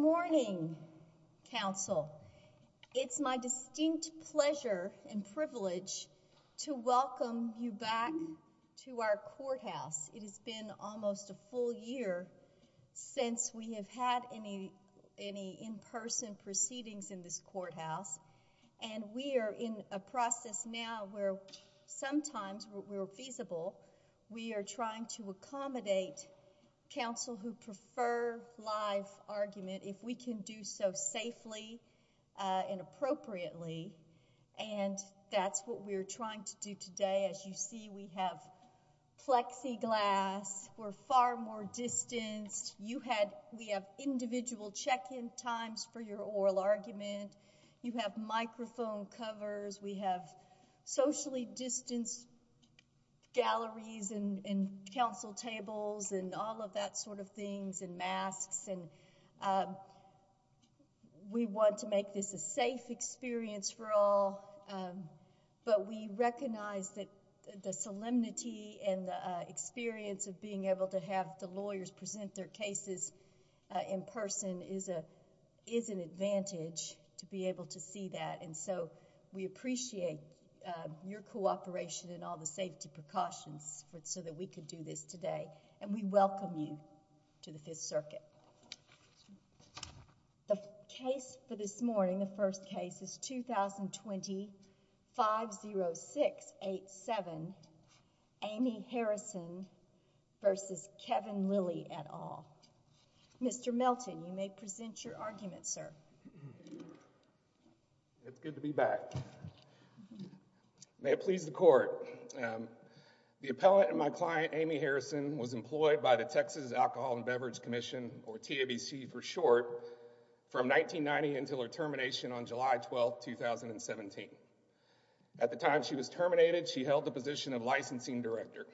Good morning, Council. It's my distinct pleasure and privilege to welcome you back to our courthouse. It has been almost a full year since we have had any in-person proceedings in this courthouse, and we are in a process now where sometimes, where feasible, we are trying to accommodate Council who prefer live argument, if we can do so safely and appropriately, and that's what we're trying to do today. As you see, we have plexiglass. We're far more distanced. We have individual check-in times for your oral argument. You have microphone covers. We have socially distanced galleries and Council tables and all of that sort of things and masks, and we want to make this a safe experience for all, but we recognize that the solemnity and the experience of being able to have the lawyers present their cases in person is an advantage to be able to see that, and so we appreciate your cooperation and all the safety precautions so that we could do this today, and we welcome you to the Fifth Circuit. The case for this morning, the first case, is 2020-50687, Amy Harrison v. Kevin Lilly et al. Mr. Melton, you may present your argument, sir. It's good to be back. May it please the Court, the appellant and my client, Amy Harrison, was employed by the Texas Alcohol and Beverage Commission, or TABC for short, from 1990 until her termination on July 12, 2017. At the time she was terminated, she held the position of licensing director.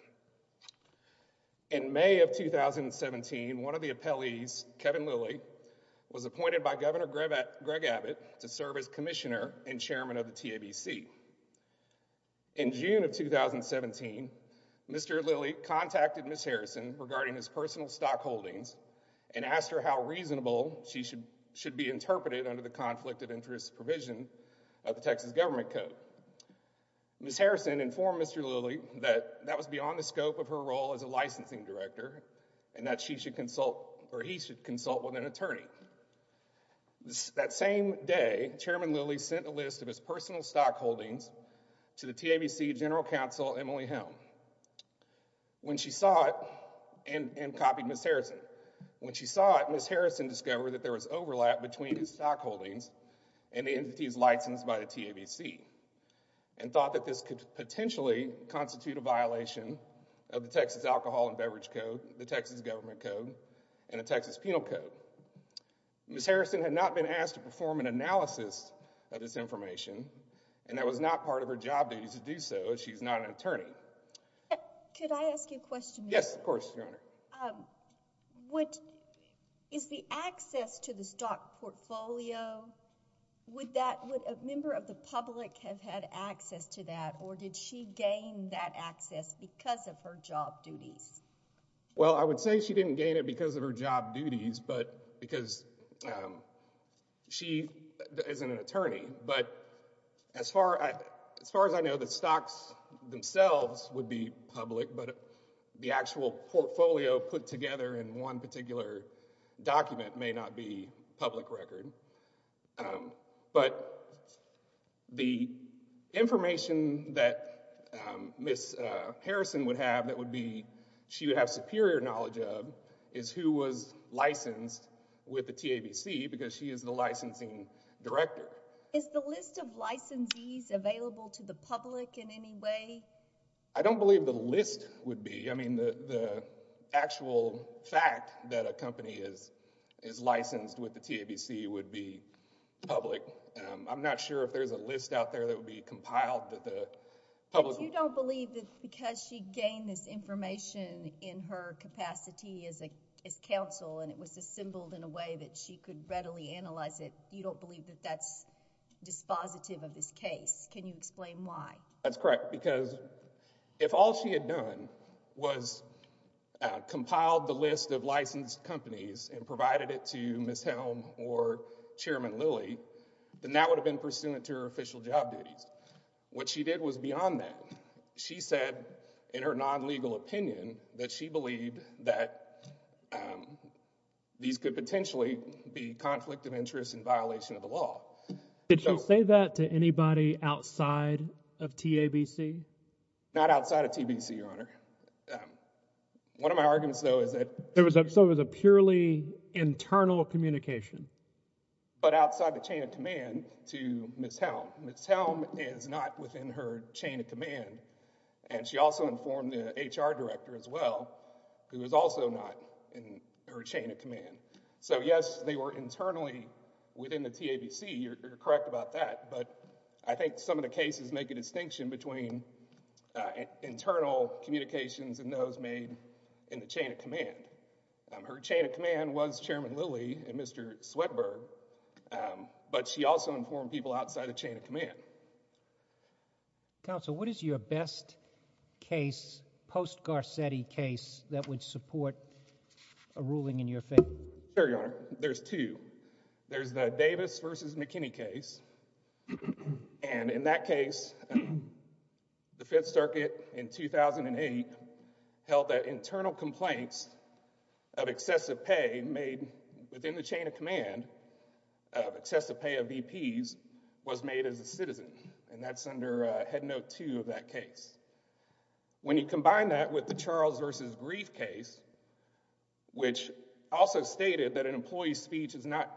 In May of 2017, one of the appellees, Kevin Lilly, was appointed by Governor Greg Abbott to serve as commissioner and chairman of the TABC. In June of 2017, Mr. Lilly contacted Ms. Harrison regarding his personal stock holdings and asked her how reasonable she should be interpreted under the conflict of interest provision of the Texas Government Code. Ms. Harrison informed Mr. Lilly that that was beyond the scope of her role as a licensing director and that she should consult, or he should consult, with an attorney. That same day, Chairman Lilly sent a list of his personal stock holdings to the TABC General Counsel, Emily Helm. When she saw it, and copied Ms. Harrison, when she saw it, Ms. Harrison discovered that there was overlap between his stock holdings and the entities licensed by the TABC and thought that this could potentially constitute a violation of the Texas Alcohol and Beverage Code, the Texas Government Code, and the Texas Penal Code. Ms. Harrison had not been asked to perform an analysis of this information and that was not part of her job duties to do so as she's not an attorney. Could I ask you a question? Yes, of course, Your Honor. Is the access to the stock portfolio, would a member of the public have had access to that or did she gain that access because of her job duties? Well, I would say she didn't gain it because of her job duties, but because she isn't an attorney. But as far as I know, the stocks themselves would be public, but the actual portfolio put together in one particular document may not be public record. But the information that Ms. Harrison would have that she would have superior knowledge of is who was licensed with the TABC because she is the licensing director. Is the list of licensees available to the public in any way? I don't believe the list would be. I mean, the actual fact that a company is licensed with the TABC would be public. I'm not sure if there's a list out there that would be compiled that the public... But you don't believe that because she gained this information in her capacity as counsel and it was assembled in a way that she could readily analyze it, you don't believe that that's dispositive of this case. Can you explain why? That's correct. Because if all she had done was compiled the list of licensed companies and provided it to Ms. Helm or Chairman Lilly, then that would have been pursuant to her official job duties. What she did was beyond that. She said in her non-legal opinion that she believed that these could potentially be conflict of interest and violation of the law. Did she say that to anybody outside of TABC? Not outside of TBC, Your Honor. One of my arguments, though, is that... So it was a purely internal communication? But outside the chain of command to Ms. Helm. Ms. Helm is not within her chain of command. And she also informed the HR director as well, who is also not in her chain of command. So, yes, they were internally within the TABC. You're correct about that. But I think some of the cases make a distinction between internal communications and those made in the chain of command. Her chain of command was Chairman Lilly and Mr. Swetberg, but she also informed people outside the chain of command. Counsel, what is your best case, post-Garcetti case, that would support a ruling in your favor? Sure, Your Honor. There's two. There's the Davis v. McKinney case. And in that case, the Fifth Circuit in 2008 held that internal complaints of excessive pay made within the chain of command, of excessive pay of VPs, was made as a citizen. And that's under Head Note 2 of that case. When you combine that with the Charles v. Grief case, which also stated that an employee's speech is not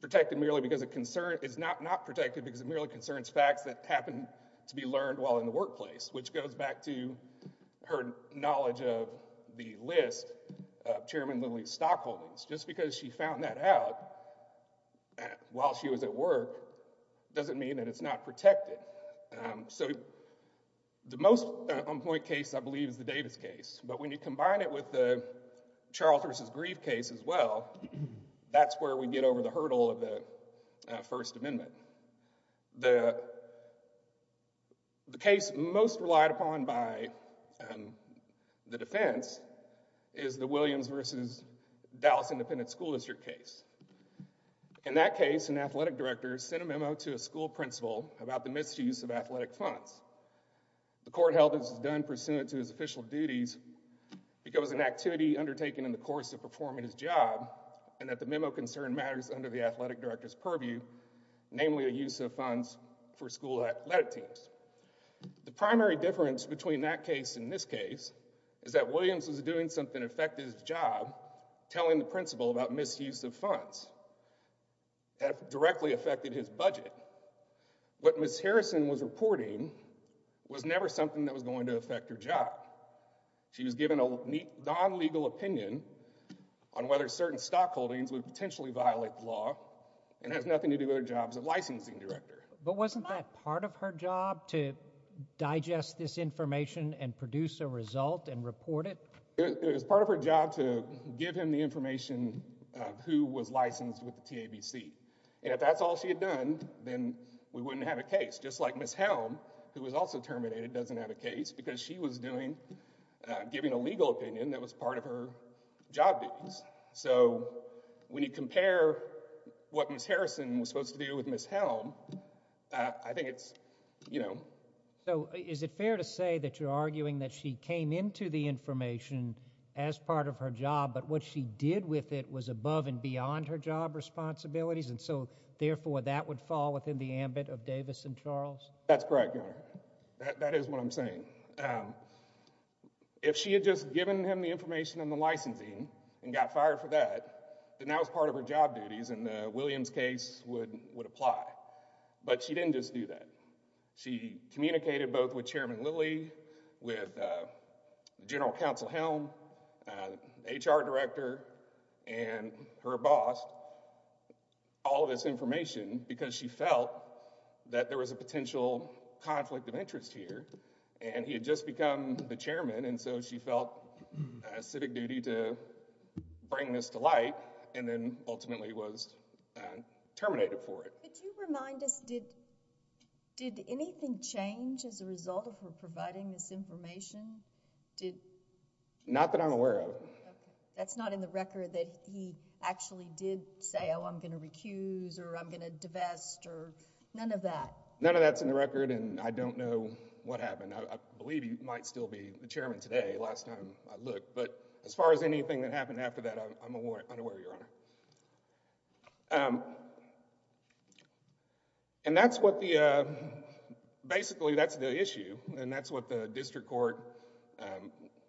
protected merely because it concerns... is not not protected because it merely concerns facts that happen to be learned while in the workplace, which goes back to her knowledge of the list of Chairman Lilly's stockholdings. Just because she found that out while she was at work, doesn't mean that it's not protected. So the most on-point case, I believe, is the Davis case. But when you combine it with the Charles v. Grief case as well, that's where we get over the hurdle of the First Amendment. The case most relied upon by the defense is the Williams v. Dallas Independent School District case. In that case, an athletic director sent a memo to a school principal about the misuse of athletic funds. The court held that this was done pursuant to his official duties because of an activity undertaken in the course of performing his job and that the memo concerned matters under the athletic director's purview, namely a use of funds for school athletic teams. The primary difference between that case and this case is that Williams was doing something to affect his job, telling the principal about misuse of funds that directly affected his budget. What Ms. Harrison was reporting was never something that was going to affect her job. She was given a non-legal opinion on whether certain stockholdings would potentially violate the law and has nothing to do with her job as a licensing director. But wasn't that part of her job to digest this information and produce a result and report it? It was part of her job to give him the information of who was licensed with the TABC. And if that's all she had done, then we wouldn't have a case. Just like Ms. Helm, who was also terminated, doesn't have a case because she was giving a legal opinion that was part of her job duties. So when you compare what Ms. Harrison was supposed to do with Ms. Helm, I think it's, you know— So is it fair to say that you're arguing that she came into the information as part of her job but what she did with it was above and beyond her job responsibilities and so therefore that would fall within the ambit of Davis and Charles? That's correct, Your Honor. That is what I'm saying. If she had just given him the information on the licensing and got fired for that, then that was part of her job duties and the Williams case would apply. But she didn't just do that. She communicated both with Chairman Lilly, with General Counsel Helm, HR Director, and her boss, all of this information because she felt that there was a potential conflict of interest here. And he had just become the chairman and so she felt a civic duty to bring this to light and then ultimately was terminated for it. Could you remind us, did anything change as a result of her providing this information? Not that I'm aware of. That's not in the record that he actually did say, oh, I'm going to recuse or I'm going to divest or none of that? None of that's in the record and I don't know what happened. I believe he might still be the chairman today, last time I looked. But as far as anything that happened after that, I'm unaware, Your Honor. And that's what the, basically that's the issue and that's what the district court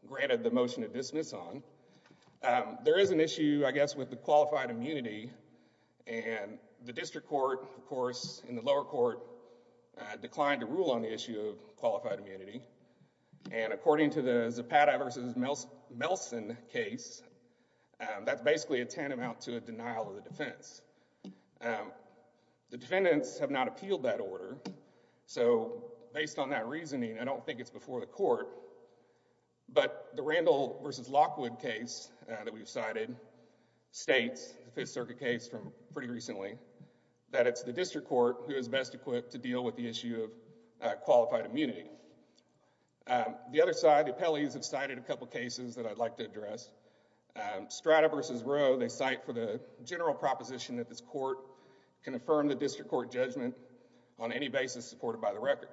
granted the motion to dismiss on. There is an issue, I guess, with the qualified immunity and the district court, of course, and the lower court declined to rule on the issue of qualified immunity. And according to the Zapata versus Melson case, that's basically a tantamount to a denial of the defense. The defendants have not appealed that order. So based on that reasoning, I don't think it's before the court. But the Randall versus Lockwood case that we've cited states, the Fifth Circuit case from pretty recently, that it's the district court who is best equipped to deal with the issue of qualified immunity. The other side, the appellees have cited a couple of cases that I'd like to address. Strata versus Roe, they cite for the general proposition that this court can affirm the district court judgment on any basis supported by the record.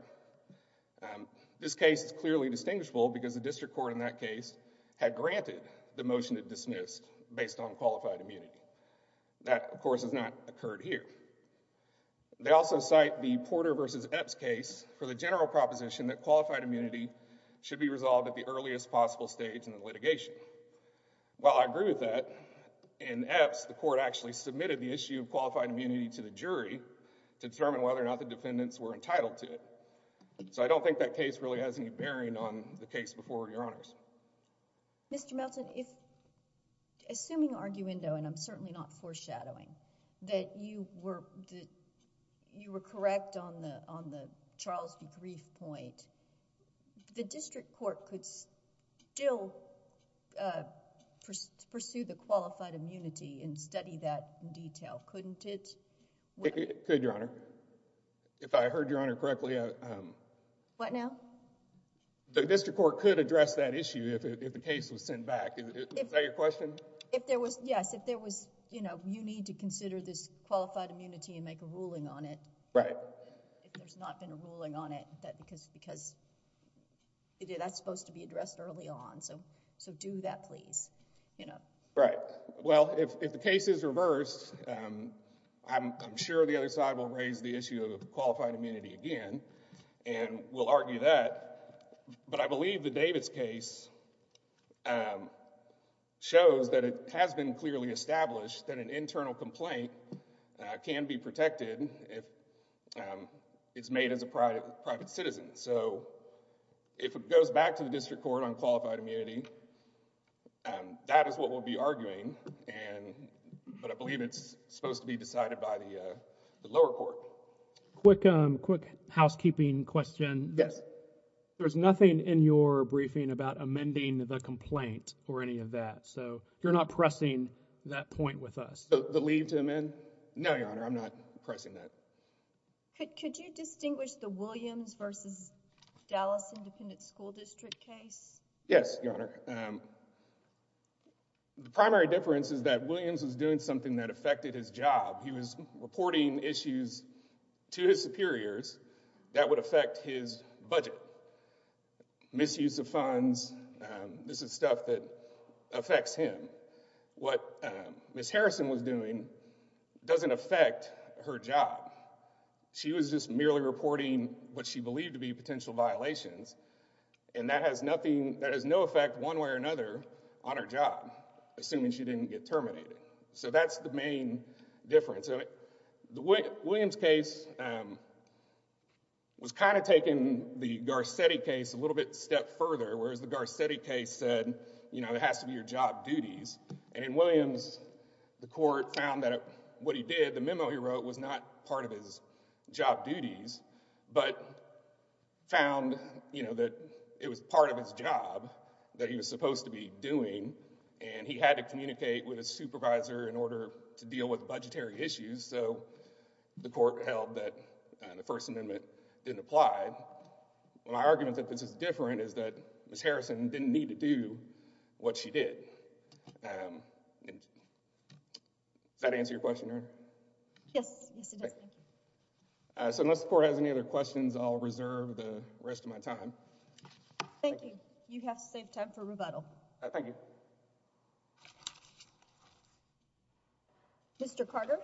This case is clearly distinguishable because the district court in that case had granted the motion to dismiss based on qualified immunity. That, of course, has not occurred here. They also cite the Porter versus Epps case for the general proposition that qualified immunity should be resolved at the earliest possible stage in the litigation. While I agree with that, in Epps, the court actually submitted the issue of qualified immunity to the jury to determine whether or not the defendants were entitled to it. So I don't think that case really has any bearing on the case before Your Honors. Mr. Melton, assuming arguendo, and I'm certainly not foreshadowing, that you were correct on the Charles D. Grief point, the district court could still pursue the qualified immunity and study that in detail, couldn't it? It could, Your Honor. If I heard Your Honor correctly. What now? The district court could address that issue if the case was sent back. Is that your question? Yes. If there was, you know, you need to consider this qualified immunity and make a ruling on it. Right. If there's not been a ruling on it, because that's supposed to be addressed early on. So do that, please. Right. Well, if the case is reversed, I'm sure the other side will raise the issue of qualified immunity again. And we'll argue that. But I believe the Davis case shows that it has been clearly established that an internal complaint can be protected if it's made as a private citizen. So if it goes back to the district court on qualified immunity, that is what we'll be arguing. But I believe it's supposed to be decided by the lower court. Quick housekeeping question. Yes. There's nothing in your briefing about amending the complaint or any of that. So you're not pressing that point with us. The leave to amend? No, Your Honor. I'm not pressing that. Could you distinguish the Williams v. Dallas Independent School District case? Yes, Your Honor. The primary difference is that Williams was doing something that affected his job. He was reporting issues to his superiors that would affect his budget, misuse of funds. This is stuff that affects him. What Ms. Harrison was doing doesn't affect her job. She was just merely reporting what she believed to be potential violations, and that has no effect one way or another on her job, assuming she didn't get terminated. So that's the main difference. The Williams case was kind of taking the Garcetti case a little bit a step further, whereas the Garcetti case said, you know, it has to be your job duties. And in Williams, the court found that what he did, the memo he wrote, was not part of his job duties, but found that it was part of his job that he was supposed to be doing, and he had to communicate with his supervisor in order to deal with budgetary issues. So the court held that the First Amendment didn't apply. My argument that this is different is that Ms. Harrison didn't need to do what she did. Does that answer your question, Your Honor? Yes, it does. So unless the court has any other questions, I'll reserve the rest of my time. Thank you. You have saved time for rebuttal. Thank you. Mr. Carter.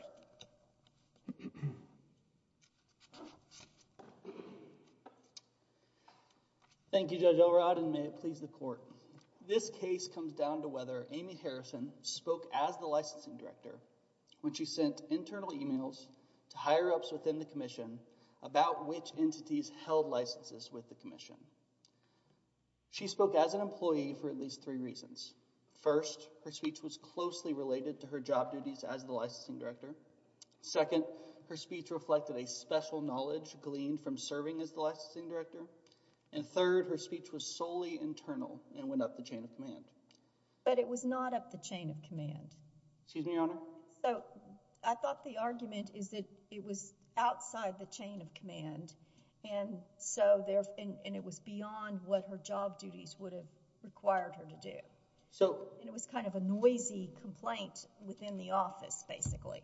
Thank you, Judge Elrod, and may it please the court. This case comes down to whether Amy Harrison spoke as the licensing director when she sent internal emails to higher-ups within the commission about which entities held licenses with the commission. She spoke as an employee for at least three reasons. First, her speech was closely related to her job duties as the licensing director. Second, her speech reflected a special knowledge gleaned from serving as the licensing director. And third, her speech was solely internal and went up the chain of command. But it was not up the chain of command. Excuse me, Your Honor? So I thought the argument is that it was outside the chain of command, and it was beyond what her job duties would have required her to do. And it was kind of a noisy complaint within the office, basically.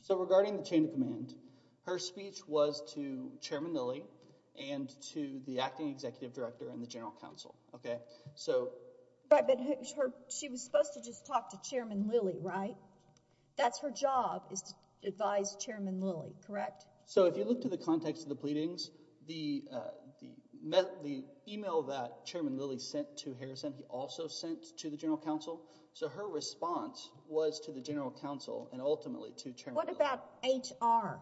So regarding the chain of command, her speech was to Chairman Lilly and to the acting executive director and the general counsel. But she was supposed to just talk to Chairman Lilly, right? That's her job is to advise Chairman Lilly, correct? So if you look to the context of the pleadings, the email that Chairman Lilly sent to Harrison he also sent to the general counsel. So her response was to the general counsel and ultimately to Chairman Lilly. What about HR?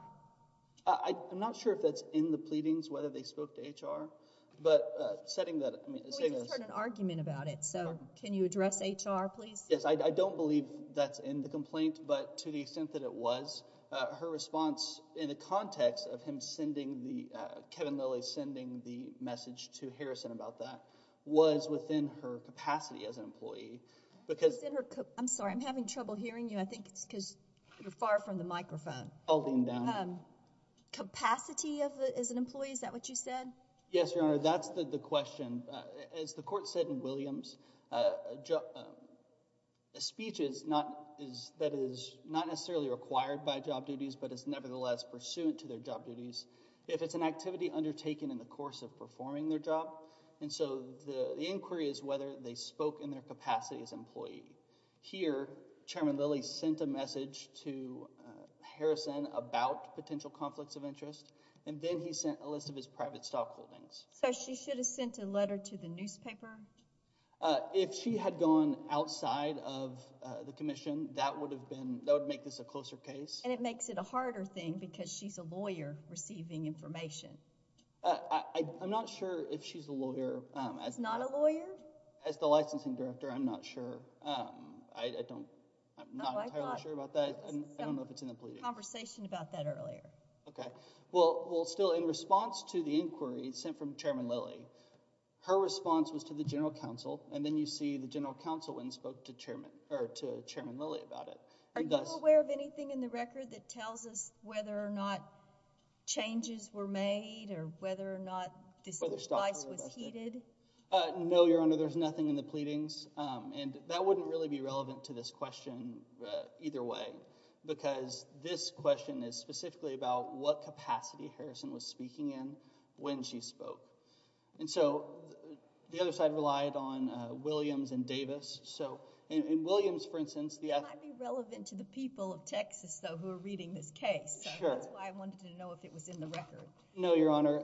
I'm not sure if that's in the pleadings, whether they spoke to HR. But setting that— We just heard an argument about it, so can you address HR, please? Yes, I don't believe that's in the complaint, but to the extent that it was, her response in the context of Kevin Lilly sending the message to Harrison about that was within her capacity as an employee because— I'm sorry. I'm having trouble hearing you. I think it's because you're far from the microphone. I'll lean down. Capacity as an employee, is that what you said? Yes, Your Honor, that's the question. As the court said in Williams, a speech that is not necessarily required by job duties but is nevertheless pursuant to their job duties, if it's an activity undertaken in the course of performing their job, and so the inquiry is whether they spoke in their capacity as an employee. Here, Chairman Lilly sent a message to Harrison about potential conflicts of interest, and then he sent a list of his private stock holdings. So she should have sent a letter to the newspaper? If she had gone outside of the commission, that would make this a closer case. And it makes it a harder thing because she's a lawyer receiving information. I'm not sure if she's a lawyer. She's not a lawyer? As the licensing director, I'm not sure. I'm not entirely sure about that. I don't know if it's in the plea. We had a conversation about that earlier. Okay. Well, still, in response to the inquiry sent from Chairman Lilly, her response was to the general counsel, and then you see the general counsel went and spoke to Chairman Lilly about it. Are you aware of anything in the record that tells us whether or not changes were made or whether or not this device was heated? No, Your Honor, there's nothing in the pleadings, and that wouldn't really be relevant to this question either way because this question is specifically about what capacity Harrison was speaking in when she spoke. And so the other side relied on Williams and Davis. So in Williams, for instance, the— It might be relevant to the people of Texas, though, who are reading this case. Sure. So that's why I wanted to know if it was in the record. No, Your Honor.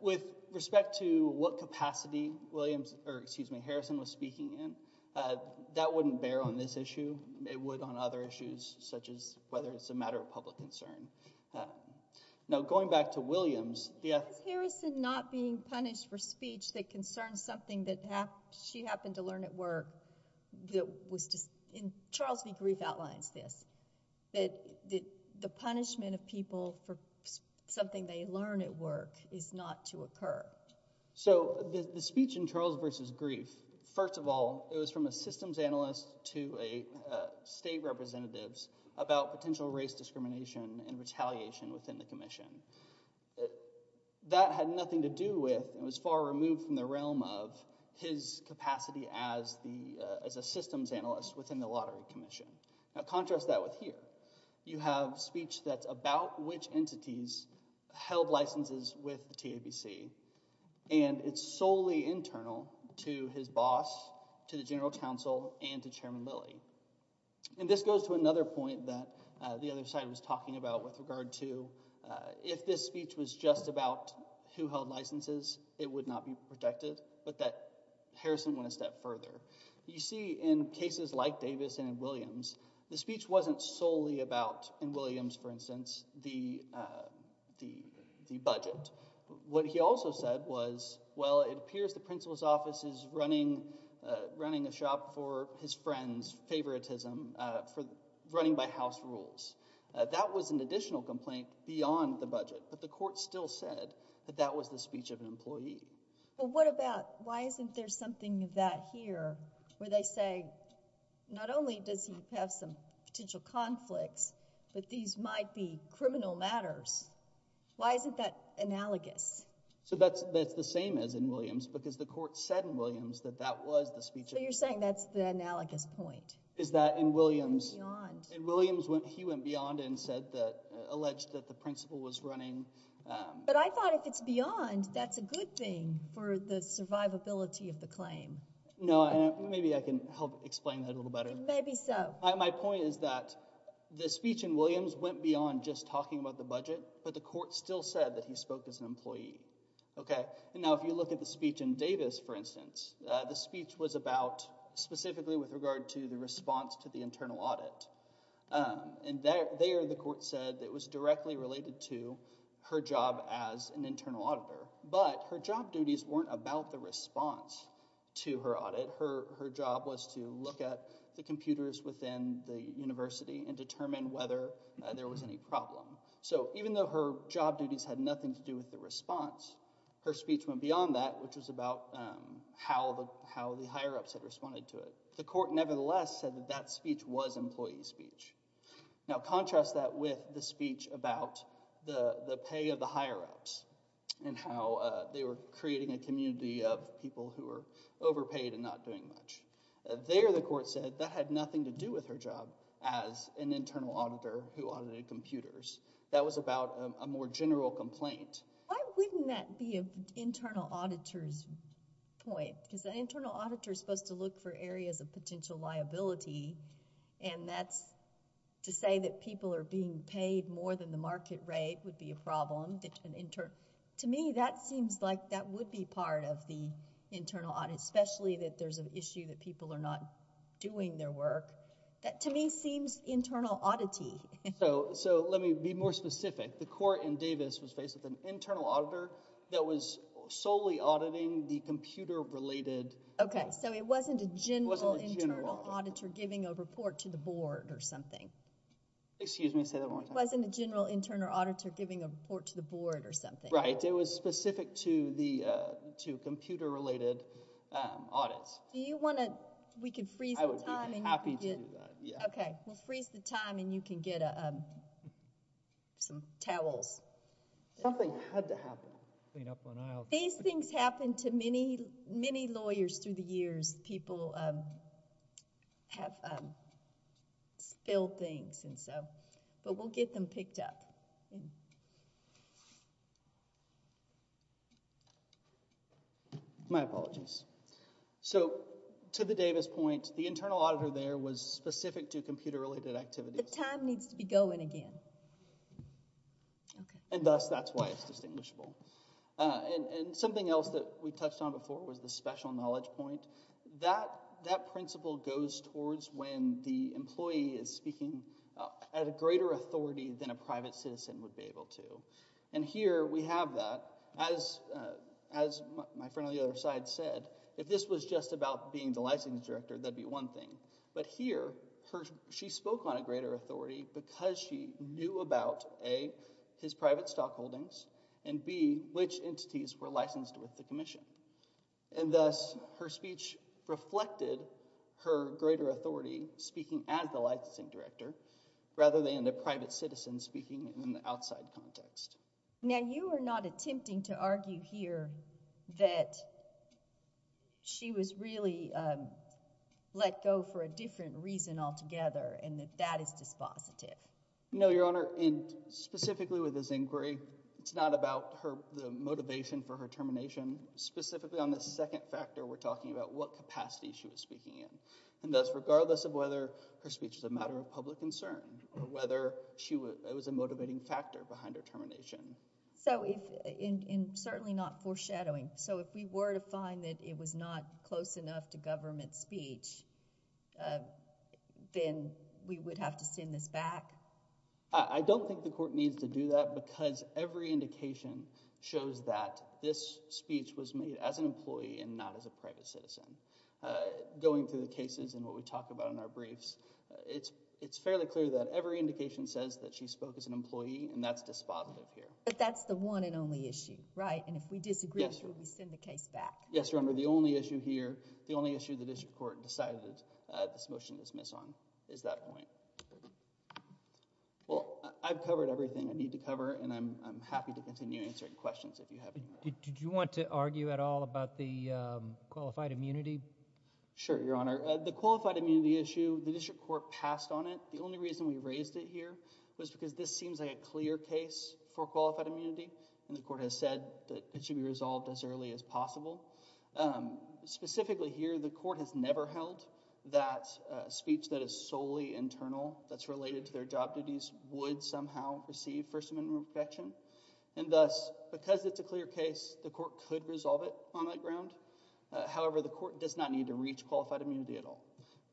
With respect to what capacity Harrison was speaking in, that wouldn't bear on this issue. It would on other issues such as whether it's a matter of public concern. Now, going back to Williams— Was Harrison not being punished for speech that concerns something that she happened to learn at work that was—Charles v. Grief outlines this, that the punishment of people for something they learn at work is not to occur. So the speech in Charles v. Grief, first of all, it was from a systems analyst to a state representative about potential race discrimination and retaliation within the commission. That had nothing to do with— It was far removed from the realm of his capacity as a systems analyst within the lottery commission. Now, contrast that with here. You have speech that's about which entities held licenses with the TABC, and it's solely internal to his boss, to the general counsel, and to Chairman Lilly. And this goes to another point that the other side was talking about with regard to if this speech was just about who held licenses, it would not be protected, but that Harrison went a step further. You see, in cases like Davis and Williams, the speech wasn't solely about, in Williams, for instance, the budget. What he also said was, well, it appears the principal's office is running a shop for his friend's favoritism, running by house rules. That was an additional complaint beyond the budget, but the court still said that that was the speech of an employee. Well, what about, why isn't there something of that here where they say, not only does he have some potential conflicts, but these might be criminal matters? Why isn't that analogous? So that's the same as in Williams, because the court said in Williams that that was the speech. So you're saying that's the analogous point. Is that in Williams, he went beyond and alleged that the principal was running. But I thought if it's beyond, that's a good thing for the survivability of the claim. No, maybe I can help explain that a little better. Maybe so. My point is that the speech in Williams went beyond just talking about the budget. But the court still said that he spoke as an employee. Now, if you look at the speech in Davis, for instance, the speech was about specifically with regard to the response to the internal audit. And there the court said it was directly related to her job as an internal auditor. But her job duties weren't about the response to her audit. Her job was to look at the computers within the university and determine whether there was any problem. So even though her job duties had nothing to do with the response, her speech went beyond that, which was about how the higher-ups had responded to it. The court nevertheless said that that speech was employee speech. Now contrast that with the speech about the pay of the higher-ups and how they were creating a community of people who were overpaid and not doing much. There the court said that had nothing to do with her job as an internal auditor who audited computers. That was about a more general complaint. Why wouldn't that be an internal auditor's point? Because an internal auditor is supposed to look for areas of potential liability. And that's to say that people are being paid more than the market rate would be a problem. To me, that seems like that would be part of the internal audit, especially that there's an issue that people are not doing their work. That to me seems internal auditee. So let me be more specific. The court in Davis was faced with an internal auditor that was solely auditing the computer-related. Okay, so it wasn't a general internal auditor giving a report to the board or something. Excuse me, say that one more time. It wasn't a general internal auditor giving a report to the board or something. Right, it was specific to computer-related audits. Do you want to—we can freeze the time. I would be happy to do that, yeah. Okay, we'll freeze the time and you can get some towels. Something had to happen. These things happen to many, many lawyers through the years. Sometimes people have spilled things, but we'll get them picked up. My apologies. So to the Davis point, the internal auditor there was specific to computer-related activities. The time needs to be going again. And thus, that's why it's distinguishable. And something else that we touched on before was the special knowledge point. That principle goes towards when the employee is speaking at a greater authority than a private citizen would be able to. And here we have that. As my friend on the other side said, if this was just about being the licensing director, that would be one thing. But here, she spoke on a greater authority because she knew about, A, his private stock holdings, and, B, which entities were licensed with the commission. And thus, her speech reflected her greater authority speaking as the licensing director rather than the private citizen speaking in the outside context. Now, you are not attempting to argue here that she was really let go for a different reason altogether and that that is dispositive. No, Your Honor. And specifically with this inquiry, it's not about the motivation for her termination. Specifically on this second factor, we're talking about what capacity she was speaking in. And thus, regardless of whether her speech was a matter of public concern or whether it was a motivating factor behind her termination. So, and certainly not foreshadowing. So, if we were to find that it was not close enough to government speech, then we would have to send this back? I don't think the court needs to do that because every indication shows that this speech was made as an employee and not as a private citizen. Going through the cases and what we talk about in our briefs, it's fairly clear that every indication says that she spoke as an employee, and that's dispositive here. But that's the one and only issue, right? And if we disagree, should we send the case back? Yes, Your Honor. The only issue here, the only issue the district court decided this motion to dismiss on is that point. Well, I've covered everything I need to cover, and I'm happy to continue answering questions if you have any. Did you want to argue at all about the qualified immunity? Sure, Your Honor. The qualified immunity issue, the district court passed on it. The only reason we raised it here was because this seems like a clear case for qualified immunity. And the court has said that it should be resolved as early as possible. Specifically here, the court has never held that speech that is solely internal, that's related to their job duties, would somehow receive First Amendment protection. And thus, because it's a clear case, the court could resolve it on that ground. However, the court does not need to reach qualified immunity at all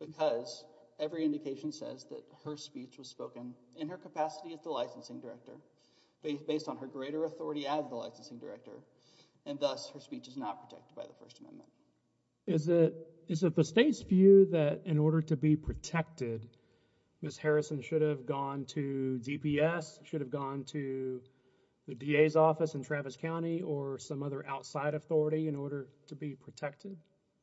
because every indication says that her speech was spoken in her capacity as the licensing director. Based on her greater authority as the licensing director. And thus, her speech is not protected by the First Amendment. Is it the state's view that in order to be protected, Ms. Harrison should have gone to DPS, should have gone to the DA's office in Travis County, or some other outside authority in order to be protected?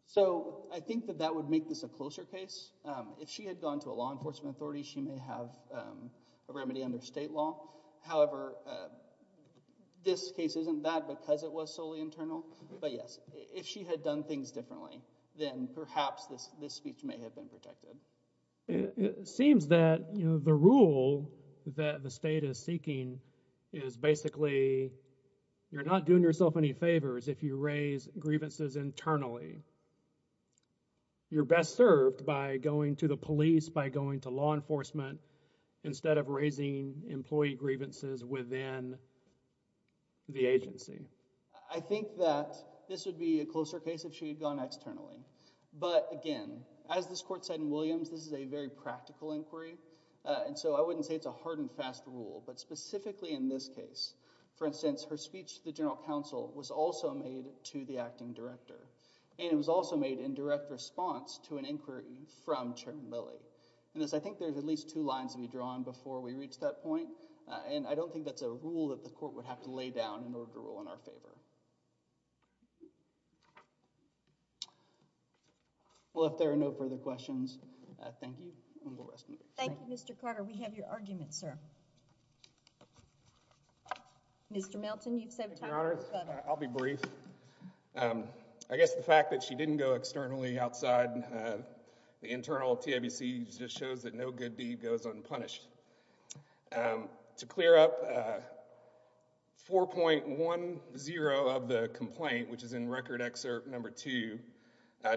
So, I think that that would make this a closer case. If she had gone to a law enforcement authority, she may have a remedy under state law. However, this case isn't bad because it was solely internal. But yes, if she had done things differently, then perhaps this speech may have been protected. It seems that the rule that the state is seeking is basically, you're not doing yourself any favors if you raise grievances internally. You're best served by going to the police, by going to law enforcement, instead of raising employee grievances within the agency. I think that this would be a closer case if she had gone externally. But again, as this court said in Williams, this is a very practical inquiry, and so I wouldn't say it's a hard and fast rule. But specifically in this case, for instance, her speech to the General Counsel was also made to the acting director. And it was also made in direct response to an inquiry from Chairman Lilly. I think there's at least two lines to be drawn before we reach that point, and I don't think that's a rule that the court would have to lay down in order to rule in our favor. Well, if there are no further questions, thank you. Thank you, Mr. Carter. We have your argument, sir. Mr. Melton, you've saved time. Your Honor, I'll be brief. I guess the fact that she didn't go externally outside the internal TABC just shows that no good deed goes unpunished. To clear up, 4.10 of the complaint, which is in Record Excerpt No. 2,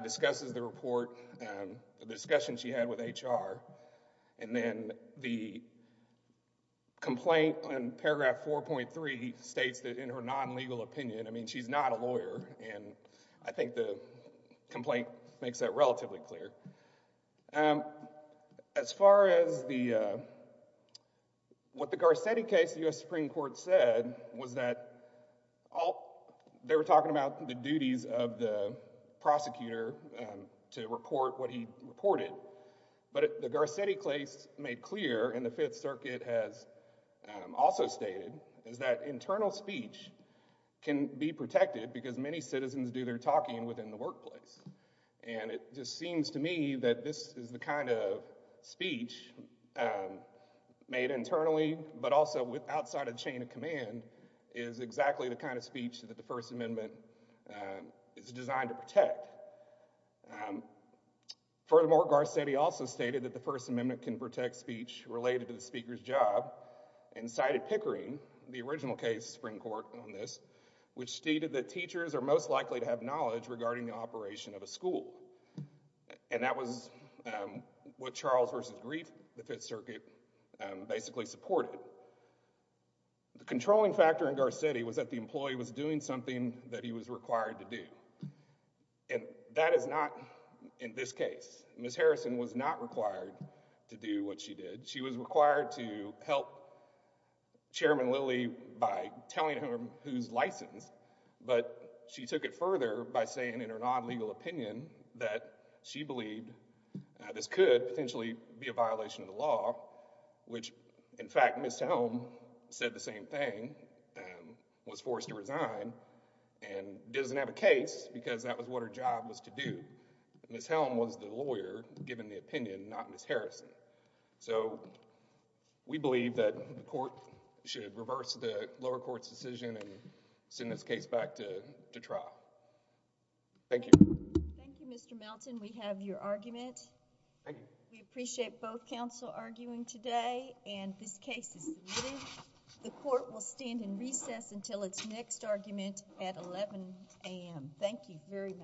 discusses the report, the discussion she had with HR. And then the complaint in paragraph 4.3 states that in her non-legal opinion, I mean, she's not a lawyer, and I think the complaint makes that relatively clear. As far as what the Garcetti case, the U.S. Supreme Court said was that they were talking about the duties of the prosecutor to report what he reported. But the Garcetti case made clear, and the Fifth Circuit has also stated, is that internal speech can be protected because many citizens do their talking within the workplace. And it just seems to me that this is the kind of speech made internally, but also outside of the chain of command, is exactly the kind of speech that the First Amendment is designed to protect. Furthermore, Garcetti also stated that the First Amendment can protect speech related to the speaker's job and cited Pickering, the original case, Supreme Court, on this, which stated that teachers are most likely to have knowledge regarding the operation of a school. And that was what Charles v. Greif, the Fifth Circuit, basically supported. The controlling factor in Garcetti was that the employee was doing something that he was required to do. And that is not in this case. Ms. Harrison was not required to do what she did. She was required to help Chairman Lilly by telling him who's licensed. But she took it further by saying in her non-legal opinion that she believed this could potentially be a violation of the law, which, in fact, Ms. Helm said the same thing, was forced to resign, and doesn't have a case because that was what her job was to do. Ms. Helm was the lawyer, given the opinion, not Ms. Harrison. So we believe that the court should reverse the lower court's decision and send this case back to trial. Thank you. Thank you, Mr. Melton. We have your argument. Thank you. We appreciate both counsel arguing today, and this case is lidded. The court will stand in recess until its next argument at 11 a.m. Thank you very much.